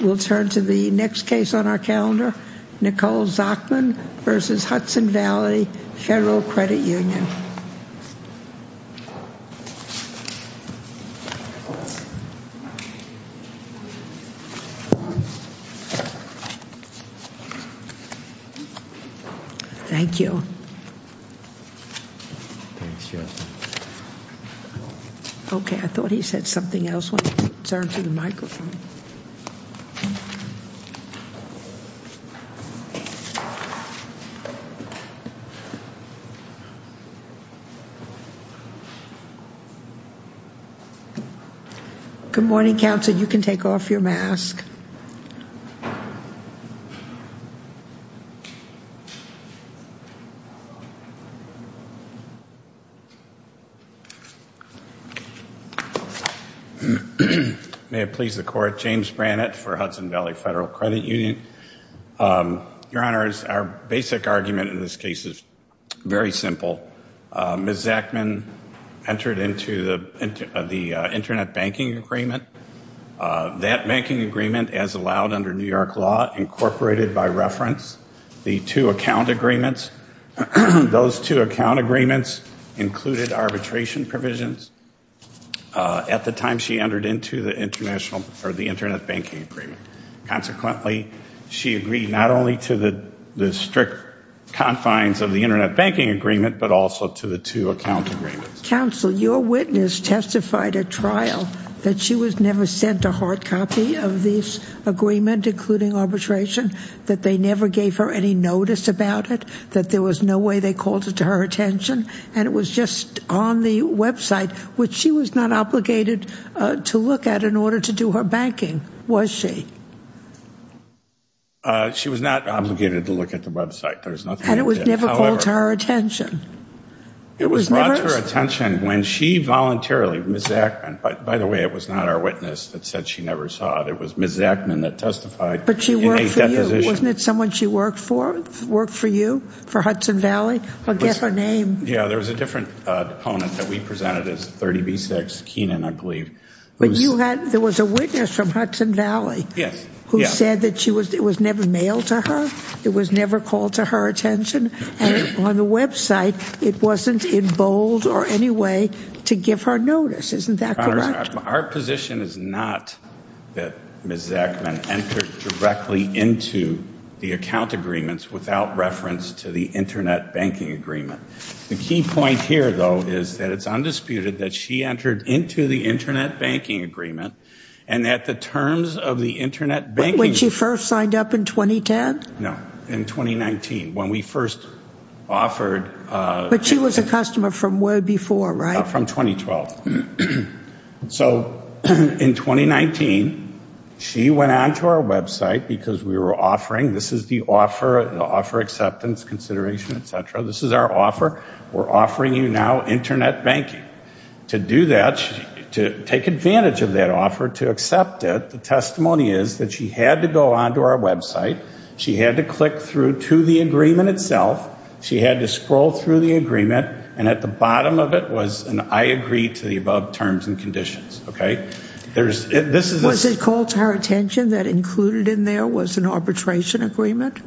We'll turn to the next case on our calendar, Nicole Zachman versus Hudson Valley Federal Credit Union. Thank you. Okay, I thought he said something else when he turned to the microphone. Good morning, counsel. You can take off your mask. May it please the court, James Brannett for Hudson Valley Federal Credit Union. Your Honors, our basic argument in this case is very simple. Ms. Zachman entered into the Internet Banking Agreement. That banking agreement, as allowed under New York law, incorporated by reference, the two account agreements. Those two account agreements included arbitration provisions at the time she entered into the Internet Banking Agreement. Consequently, she agreed not only to the strict confines of the Internet Banking Agreement, but also to the two account agreements. Counsel, your witness testified at trial that she was never sent a hard copy of this agreement, including arbitration, that they never gave her any notice about it, that there was no way they called it to her attention, and it was just on the website, which she was not obligated to look at in order to do her banking, was she? She was not obligated to look at the website. And it was never called to her attention? It was not to her attention when she voluntarily, Ms. Zachman, by the way, it was not our witness that said she never saw it. It was Ms. Zachman that testified. But she worked for you, wasn't it someone she worked for, worked for you, for Hudson Valley? I'll guess her name. Yeah, there was a different opponent that we presented as 30B6, Keenan, I believe. But you had, there was a witness from Hudson Valley who said that it was never mailed to her, it was never called to her attention, and on the website it wasn't in bold or any way to give her notice. Isn't that correct? Our position is not that Ms. Zachman entered directly into the account agreements without reference to the Internet Banking Agreement. The key point here, though, is that it's undisputed that she entered into the Internet Banking Agreement and that the terms of the Internet Banking Agreement When she first signed up in 2010? No, in 2019, when we first offered But she was a customer from way before, right? From 2012. So in 2019, she went on to our website because we were offering, this is the offer, the offer acceptance consideration, et cetera, this is our offer, we're offering you now Internet banking. To do that, to take advantage of that offer, to accept it, the testimony is that she had to go on to our website, she had to click through to the agreement itself, she had to scroll through the agreement, and at the bottom of it was an I agree to the above terms and conditions. Was it called to her attention that included in there was an arbitration agreement?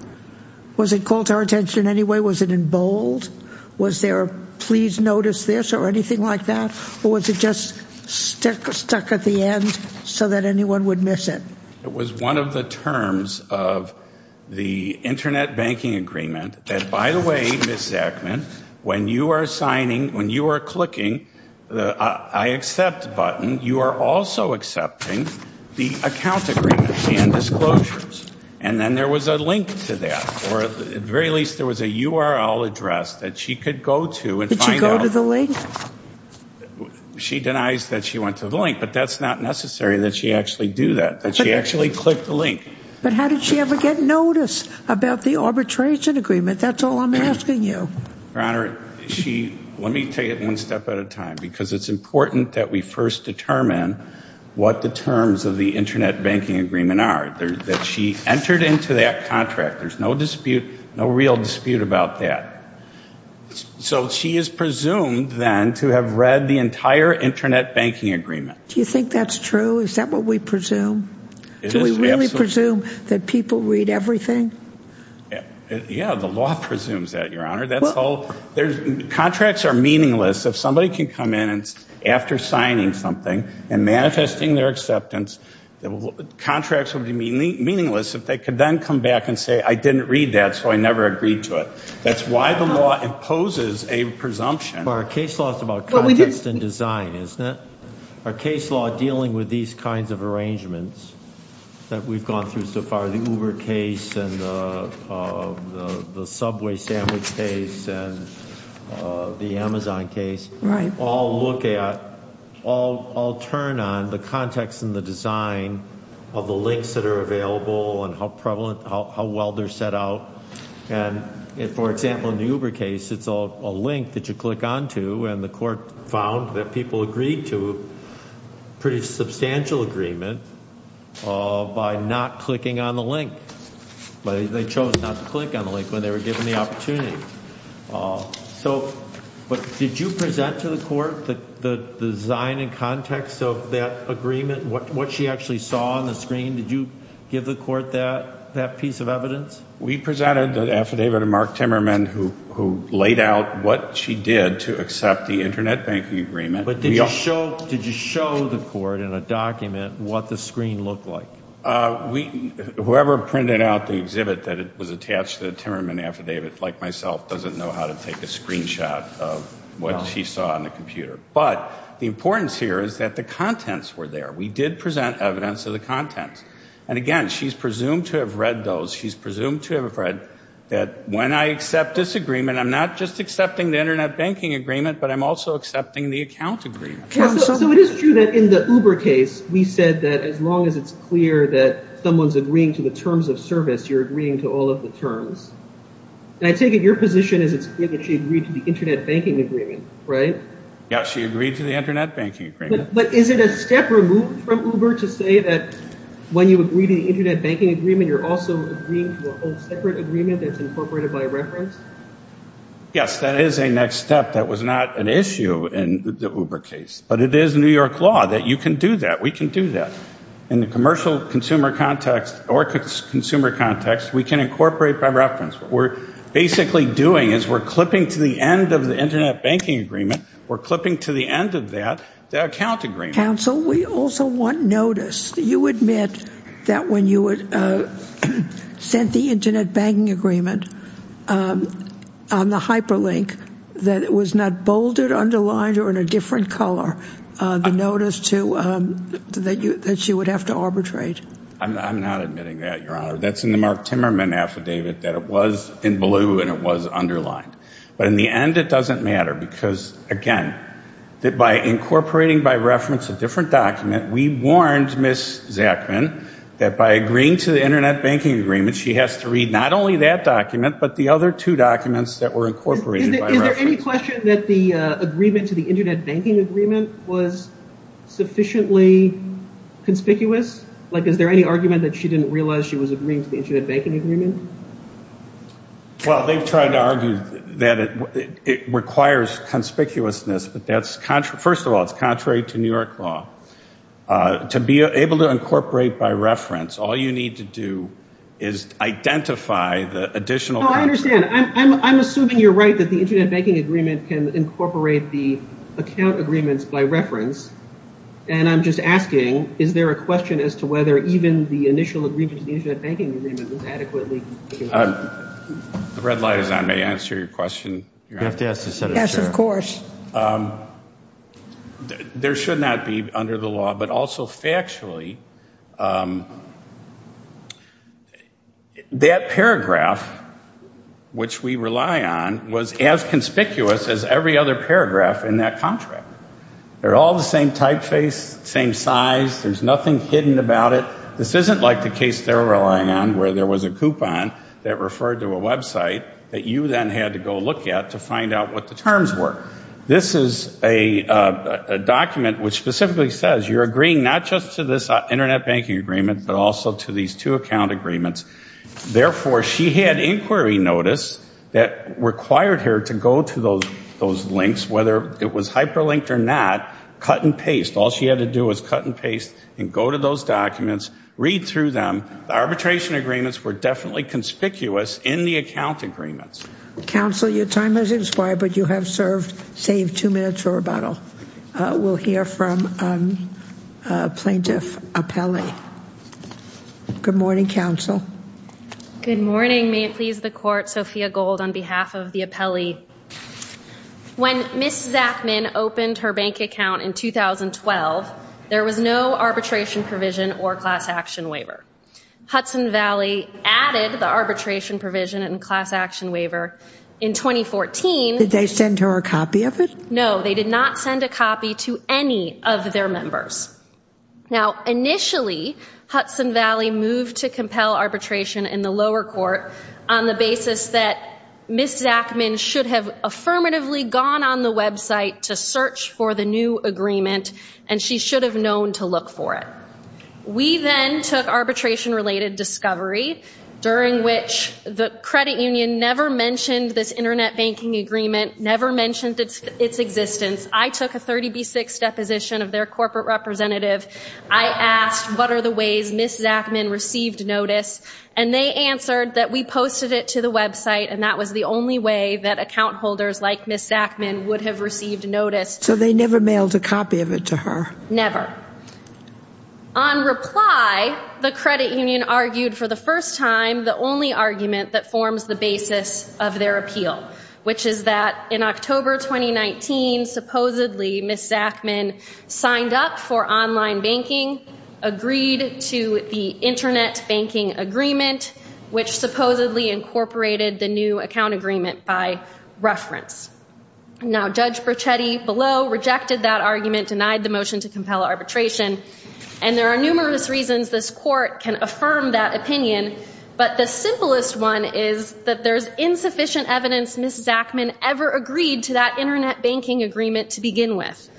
Was it called to her attention in any way? Was it in bold? Was there a please notice this or anything like that? Or was it just stuck at the end so that anyone would miss it? It was one of the terms of the Internet banking agreement that, by the way, Ms. Zackman, when you are signing, when you are clicking the I accept button, you are also accepting the account agreement and disclosures. And then there was a link to that, or at the very least there was a URL address that she could go to and find out. Did she go to the link? She denies that she went to the link, but that's not necessary that she actually do that. That she actually clicked the link. But how did she ever get notice about the arbitration agreement? That's all I'm asking you. Your Honor, let me take it one step at a time, because it's important that we first determine what the terms of the Internet banking agreement are, that she entered into that contract. There's no dispute, no real dispute about that. So she is presumed then to have read the entire Internet banking agreement. Do you think that's true? Is that what we presume? Do we really presume that people read everything? Yeah, the law presumes that, Your Honor. Contracts are meaningless. If somebody can come in after signing something and manifesting their acceptance, contracts would be meaningless if they could then come back and say, I didn't read that, so I never agreed to it. That's why the law imposes a presumption. Our case law is about context and design, isn't it? Our case law dealing with these kinds of arrangements that we've gone through so far, the Uber case and the Subway sandwich case and the Amazon case, all look at, all turn on the context and the design of the links that are available and how well they're set out. For example, in the Uber case, it's a link that you click onto, and the court found that people agreed to a pretty substantial agreement by not clicking on the link. They chose not to click on the link when they were given the opportunity. So did you present to the court the design and context of that agreement, what she actually saw on the screen? We presented the affidavit of Mark Timmerman who laid out what she did to accept the Internet banking agreement. But did you show the court in a document what the screen looked like? Whoever printed out the exhibit that was attached to the Timmerman affidavit, like myself, doesn't know how to take a screenshot of what she saw on the computer. But the importance here is that the contents were there. We did present evidence of the contents. And again, she's presumed to have read those. She's presumed to have read that when I accept this agreement, I'm not just accepting the Internet banking agreement, but I'm also accepting the account agreement. So it is true that in the Uber case, we said that as long as it's clear that someone's agreeing to the terms of service, you're agreeing to all of the terms. And I take it your position is it's clear that she agreed to the Internet banking agreement, right? Yeah, she agreed to the Internet banking agreement. But is it a step removed from Uber to say that when you agree to the Internet banking agreement, you're also agreeing to a whole separate agreement that's incorporated by reference? Yes, that is a next step. That was not an issue in the Uber case. But it is New York law that you can do that, we can do that. In the commercial consumer context or consumer context, we can incorporate by reference. What we're basically doing is we're clipping to the end of the Internet banking agreement, we're clipping to the end of that, the account agreement. Counsel, we also want notice. Do you admit that when you sent the Internet banking agreement on the hyperlink, that it was not bolded, underlined, or in a different color, the notice that she would have to arbitrate? I'm not admitting that, Your Honor. That's in the Mark Timmerman affidavit that it was in blue and it was underlined. But in the end, it doesn't matter because, again, by incorporating by reference a different document, we warned Ms. Zachman that by agreeing to the Internet banking agreement, she has to read not only that document but the other two documents that were incorporated by reference. Is there any question that the agreement to the Internet banking agreement was sufficiently conspicuous? Like, is there any argument that she didn't realize she was agreeing to the Internet banking agreement? Well, they've tried to argue that it requires conspicuousness. First of all, it's contrary to New York law. To be able to incorporate by reference, all you need to do is identify the additional document. No, I understand. I'm assuming you're right that the Internet banking agreement can incorporate the account agreements by reference. And I'm just asking, is there a question as to whether even the initial agreement to the Internet banking agreement was adequately conspicuous? The red light is on. May I answer your question, Your Honor? Yes, of course. There should not be under the law, but also factually, that paragraph, which we rely on, was as conspicuous as every other paragraph in that contract. They're all the same typeface, same size. There's nothing hidden about it. This isn't like the case they're relying on where there was a coupon that referred to a Web site that you then had to go look at to find out what the terms were. This is a document which specifically says you're agreeing not just to this Internet banking agreement, but also to these two account agreements. Therefore, she had inquiry notice that required her to go to those links, whether it was hyperlinked or not, cut and paste. All she had to do was cut and paste and go to those documents, read through them. The arbitration agreements were definitely conspicuous in the account agreements. Counsel, your time has expired, but you have served, save two minutes for rebuttal. We'll hear from Plaintiff Apelli. Good morning, Counsel. Good morning. May it please the Court, Sophia Gold on behalf of the Apelli. When Ms. Zachman opened her bank account in 2012, there was no arbitration provision or class action waiver. Hudson Valley added the arbitration provision and class action waiver in 2014. Did they send her a copy of it? No, they did not send a copy to any of their members. Now, initially, Hudson Valley moved to compel arbitration in the lower court on the basis that Ms. Zachman should have affirmatively gone on the website to search for the new agreement, and she should have known to look for it. We then took arbitration-related discovery, during which the credit union never mentioned this Internet banking agreement, never mentioned its existence. I took a 30B6 deposition of their corporate representative. I asked, what are the ways Ms. Zachman received notice? And they answered that we posted it to the website, and that was the only way that account holders like Ms. Zachman would have received notice. So they never mailed a copy of it to her? Never. On reply, the credit union argued for the first time the only argument that forms the basis of their appeal, which is that in October 2019, supposedly Ms. Zachman signed up for online banking, agreed to the Internet banking agreement, which supposedly incorporated the new account agreement by reference. Now, Judge Brochetti below rejected that argument, denied the motion to compel arbitration, and there are numerous reasons this court can affirm that opinion, but the simplest one is that there's insufficient evidence Ms. Zachman ever agreed to that Internet banking agreement to begin with.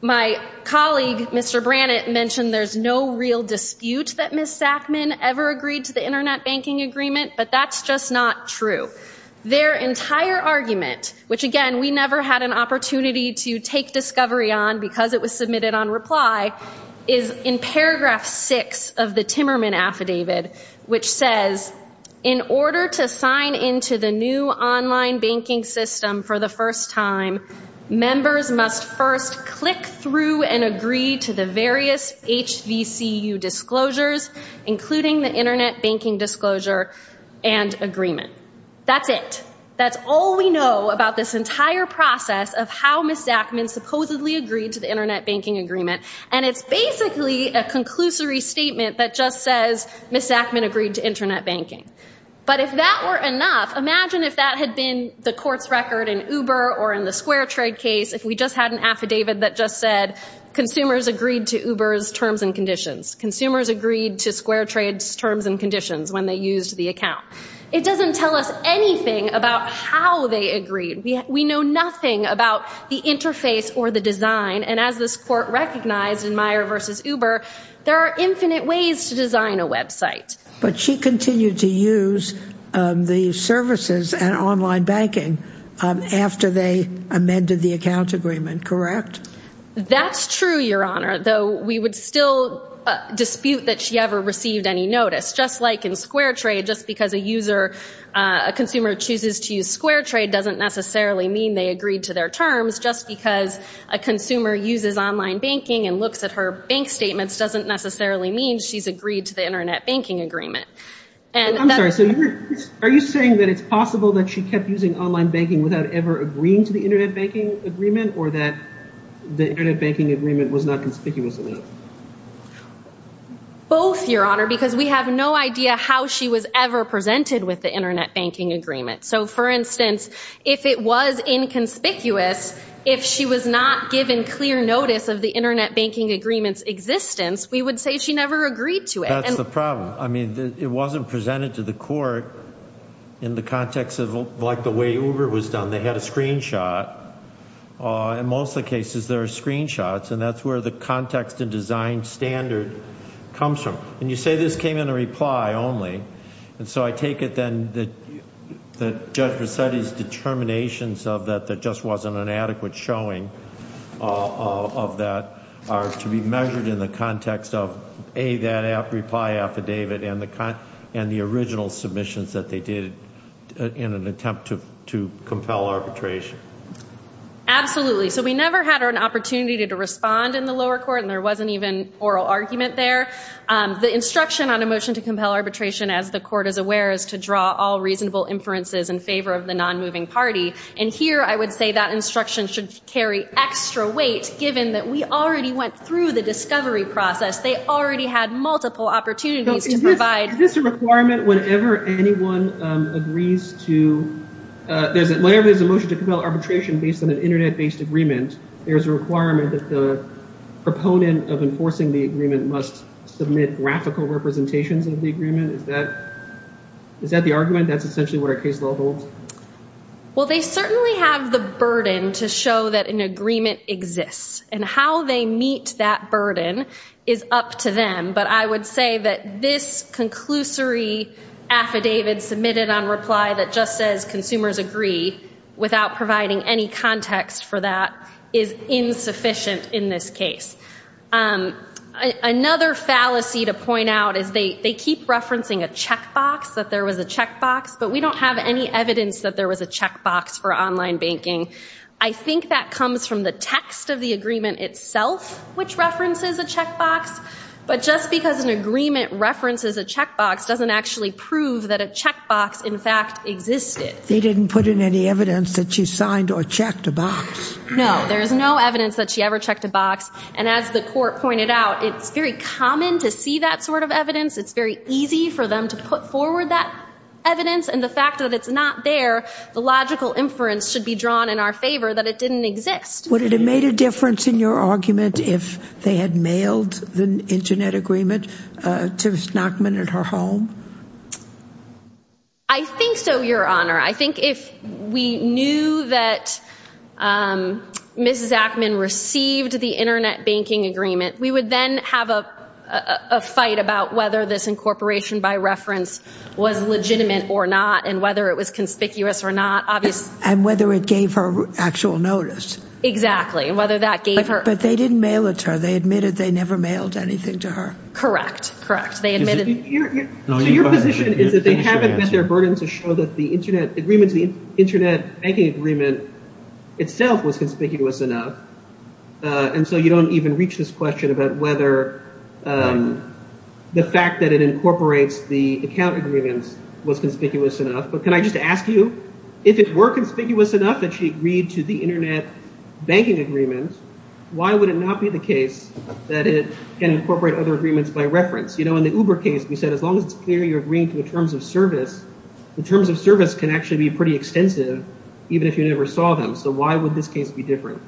My colleague, Mr. Brannett, mentioned there's no real dispute that Ms. Zachman ever agreed to the Internet banking agreement, but that's just not true. Their entire argument, which again, we never had an opportunity to take discovery on because it was submitted on reply, is in paragraph six of the Timmerman affidavit, which says, in order to sign into the new online banking system for the first time, members must first click through and agree to the various HVCU disclosures, including the Internet banking disclosure and agreement. That's it. That's all we know about this entire process of how Ms. Zachman supposedly agreed to the Internet banking agreement, and it's basically a conclusory statement that just says Ms. Zachman agreed to Internet banking. But if that were enough, imagine if that had been the court's record in Uber or in the SquareTrade case, if we just had an affidavit that just said, consumers agreed to Uber's terms and conditions. Consumers agreed to SquareTrade's terms and conditions when they used the account. It doesn't tell us anything about how they agreed. We know nothing about the interface or the design. And as this court recognized in Meyer v. Uber, there are infinite ways to design a Web site. But she continued to use the services and online banking after they amended the account agreement, correct? That's true, Your Honor, though we would still dispute that she ever received any notice, just like in SquareTrade, just because a consumer chooses to use SquareTrade doesn't necessarily mean they agreed to their terms. Just because a consumer uses online banking and looks at her bank statements doesn't necessarily mean she's agreed to the Internet banking agreement. I'm sorry. So are you saying that it's possible that she kept using online banking without ever agreeing to the Internet banking agreement, or that the Internet banking agreement was not conspicuous enough? Both, Your Honor, because we have no idea how she was ever presented with the Internet banking agreement. So, for instance, if it was inconspicuous, if she was not given clear notice of the Internet banking agreement's existence, we would say she never agreed to it. That's the problem. I mean, it wasn't presented to the court in the context of like the way Uber was done. They had a screenshot. In most of the cases, there are screenshots, and that's where the context and design standard comes from. And you say this came in a reply only. And so I take it then that Judge Vercetti's determinations of that there just wasn't an adequate showing of that are to be measured in the context of, A, that reply affidavit, and the original submissions that they did in an attempt to compel arbitration. Absolutely. So we never had an opportunity to respond in the lower court, and there wasn't even oral argument there. The instruction on a motion to compel arbitration, as the court is aware, is to draw all reasonable inferences in favor of the nonmoving party. And here I would say that instruction should carry extra weight, given that we already went through the discovery process. They already had multiple opportunities to provide- Is this a requirement whenever anyone agrees to- whenever there's a motion to compel arbitration based on an Internet-based agreement, there's a requirement that the proponent of enforcing the agreement must submit graphical representations of the agreement? Is that the argument? That's essentially what our case law holds? Well, they certainly have the burden to show that an agreement exists. And how they meet that burden is up to them. But I would say that this conclusory affidavit submitted on reply that just says consumers agree, without providing any context for that, is insufficient in this case. Another fallacy to point out is they keep referencing a checkbox, that there was a checkbox, but we don't have any evidence that there was a checkbox for online banking. I think that comes from the text of the agreement itself, which references a checkbox. But just because an agreement references a checkbox doesn't actually prove that a checkbox, in fact, existed. They didn't put in any evidence that she signed or checked a box. No, there's no evidence that she ever checked a box. And as the court pointed out, it's very common to see that sort of evidence. It's very easy for them to put forward that evidence. And the fact that it's not there, the logical inference should be drawn in our favor that it didn't exist. Would it have made a difference in your argument if they had mailed the Internet agreement to Ms. Nachman at her home? I think so, Your Honor. I think if we knew that Mrs. Nachman received the Internet banking agreement, we would then have a fight about whether this incorporation by reference was legitimate or not and whether it was conspicuous or not. And whether it gave her actual notice. Exactly. But they didn't mail it to her. They admitted they never mailed anything to her. Correct. Correct. So your position is that they haven't met their burden to show that the Internet banking agreement itself was conspicuous enough, and so you don't even reach this question about whether the fact that it incorporates the account agreements was conspicuous enough. But can I just ask you, if it were conspicuous enough that she agreed to the Internet banking agreement, why would it not be the case that it can incorporate other agreements by reference? You know, in the Uber case, we said as long as it's clear you're agreeing to the terms of service, the terms of service can actually be pretty extensive even if you never saw them. So why would this case be different?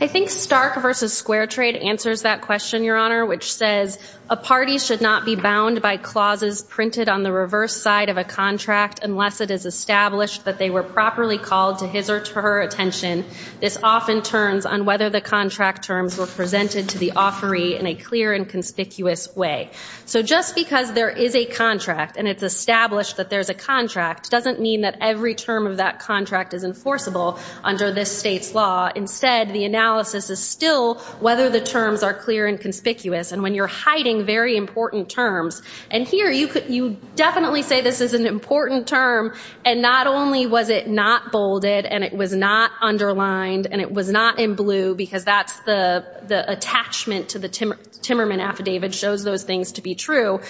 I think Stark v. Square Trade answers that question, Your Honor, which says a party should not be bound by clauses printed on the reverse side of a contract unless it is established that they were properly called to his or her attention. This often turns on whether the contract terms were presented to the offeree in a clear and conspicuous way. So just because there is a contract and it's established that there's a contract doesn't mean that every term of that contract is enforceable under this state's law. Instead, the analysis is still whether the terms are clear and conspicuous. And when you're hiding very important terms, and here you definitely say this is an important term, and not only was it not bolded and it was not underlined and it was not in blue because that's the attachment to the Timmerman Affidavit shows those things to be true,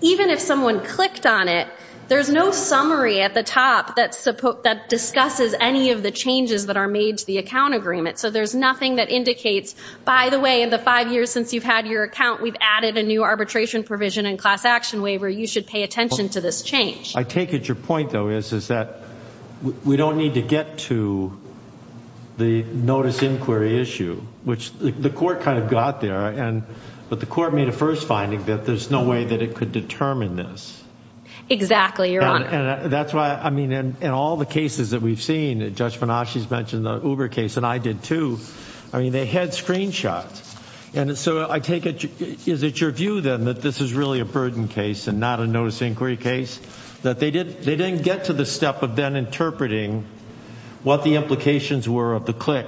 even if someone clicked on it, there's no summary at the top that discusses any of the changes that are made to the account agreement. So there's nothing that indicates, by the way, in the five years since you've had your account, we've added a new arbitration provision and class action waiver. You should pay attention to this change. I take it your point, though, is that we don't need to get to the notice inquiry issue, which the court kind of got there, but the court made a first finding that there's no way that it could determine this. Exactly, Your Honor. And that's why, I mean, in all the cases that we've seen, Judge Menache's mentioned the Uber case, and I did too, I mean, they had screenshots. And so I take it, is it your view, then, that this is really a burden case and not a notice inquiry case, that they didn't get to the step of then interpreting what the implications were of the click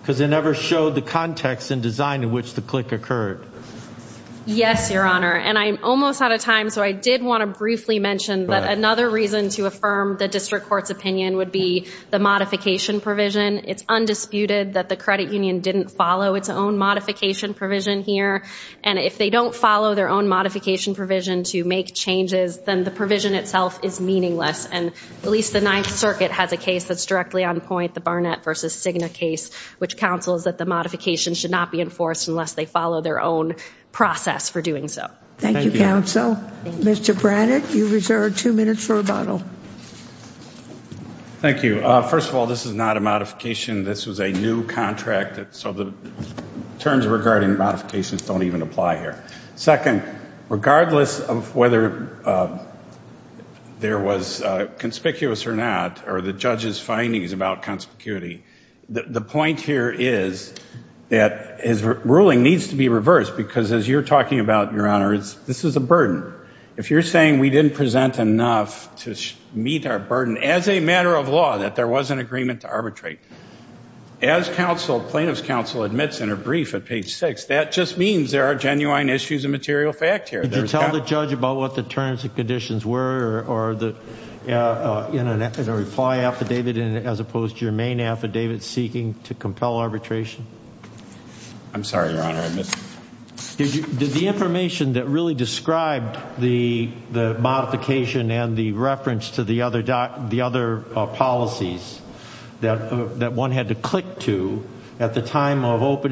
because they never showed the context and design in which the click occurred? Yes, Your Honor. And I'm almost out of time, so I did want to briefly mention that another reason to affirm the district court's opinion would be the modification provision. It's undisputed that the credit union didn't follow its own modification provision here, and if they don't follow their own modification provision to make changes, then the provision itself is meaningless, and at least the Ninth Circuit has a case that's directly on point, the Barnett v. Cigna case, which counsels that the modification should not be enforced unless they follow their own process for doing so. Thank you, counsel. Mr. Barnett, you reserve two minutes for rebuttal. Thank you. First of all, this is not a modification. This was a new contract, so the terms regarding modifications don't even apply here. Second, regardless of whether there was conspicuous or not, or the judge's findings about conspicuity, the point here is that his ruling needs to be reversed because as you're talking about, Your Honor, this is a burden. If you're saying we didn't present enough to meet our burden as a matter of law that there was an agreement to arbitrate, as plaintiff's counsel admits in her brief at page 6, that just means there are genuine issues of material fact here. Did you tell the judge about what the terms and conditions were or the reply affidavit as opposed to your main affidavit seeking to compel arbitration? I'm sorry, Your Honor. Did the information that really described the modification and the reference to the other policies that one had to click to at the time of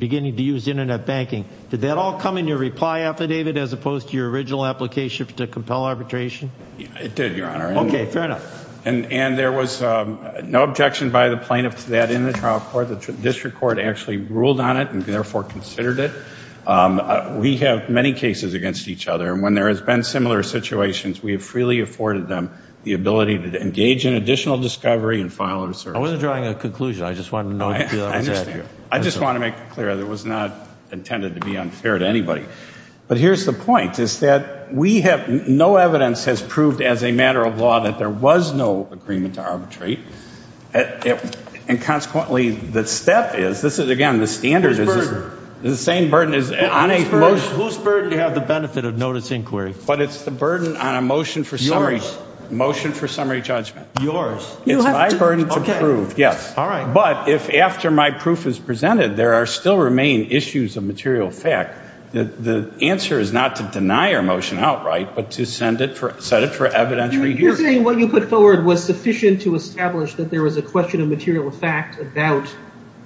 beginning to use internet banking, did that all come in your reply affidavit as opposed to your original application to compel arbitration? It did, Your Honor. Okay, fair enough. And there was no objection by the plaintiff to that in the trial court. The district court actually ruled on it and therefore considered it. We have many cases against each other. And when there has been similar situations, we have freely afforded them the ability to engage in additional discovery and final assertion. I wasn't drawing a conclusion. I just wanted to know if that was accurate. I understand. I just wanted to make it clear that it was not intended to be unfair to anybody. But here's the point is that we have no evidence has proved as a matter of law that there was no agreement to arbitrate. And consequently, the step is, this is, again, the standard is the same burden. Whose burden do you have the benefit of notice inquiry? But it's the burden on a motion for summary judgment. Yours. It's my burden to prove, yes. All right. But if after my proof is presented, there still remain issues of material fact, the answer is not to deny your motion outright, but to set it for evidentiary hearing. You're saying what you put forward was sufficient to establish that there was a question of material fact about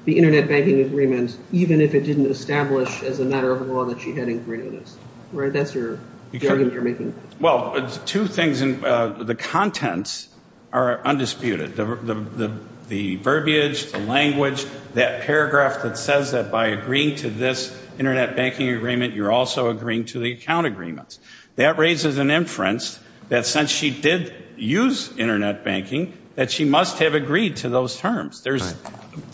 the Internet banking agreement, even if it didn't establish as a matter of law that she had inquiry notice. Right? That's your argument you're making. Well, two things. The contents are undisputed. The verbiage, the language, that paragraph that says that by agreeing to this Internet banking agreement, you're also agreeing to the account agreements. That raises an inference that since she did use Internet banking, that she must have agreed to those terms.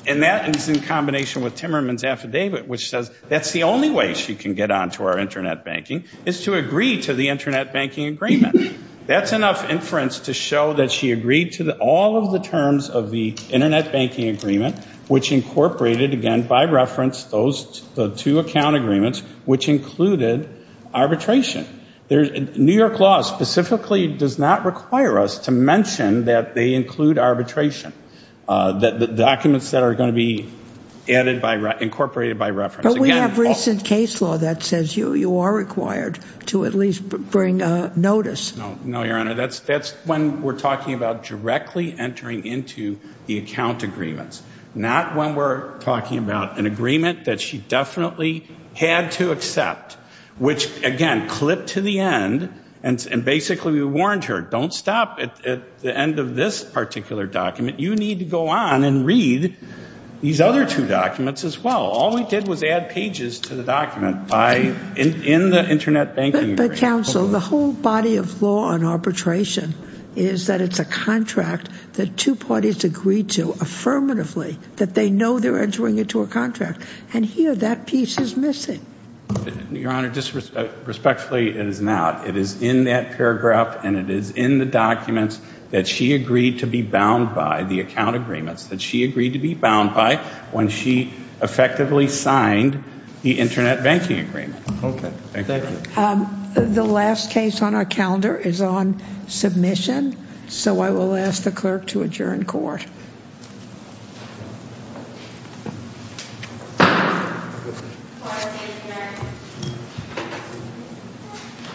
And that is in combination with Timmerman's affidavit, which says that's the only way she can get on to our Internet banking, is to agree to the Internet banking agreement. That's enough inference to show that she agreed to all of the terms of the Internet banking agreement, which incorporated, again, by reference, those two account agreements, which included arbitration. New York law specifically does not require us to mention that they include arbitration, the documents that are going to be incorporated by reference. But we have recent case law that says you are required to at least bring notice. No, Your Honor. That's when we're talking about directly entering into the account agreements, not when we're talking about an agreement that she definitely had to accept, which, again, clipped to the end. And basically we warned her, don't stop at the end of this particular document. You need to go on and read these other two documents as well. All we did was add pages to the document in the Internet banking agreement. But, counsel, the whole body of law on arbitration is that it's a contract that two parties agreed to affirmatively, that they know they're entering into a contract. And here that piece is missing. Your Honor, respectfully, it is not. It is in that paragraph and it is in the documents that she agreed to be bound by, the account agreements that she agreed to be bound by when she effectively signed the Internet banking agreement. Okay. Thank you. The last case on our calendar is on submission. So I will ask the clerk to adjourn court.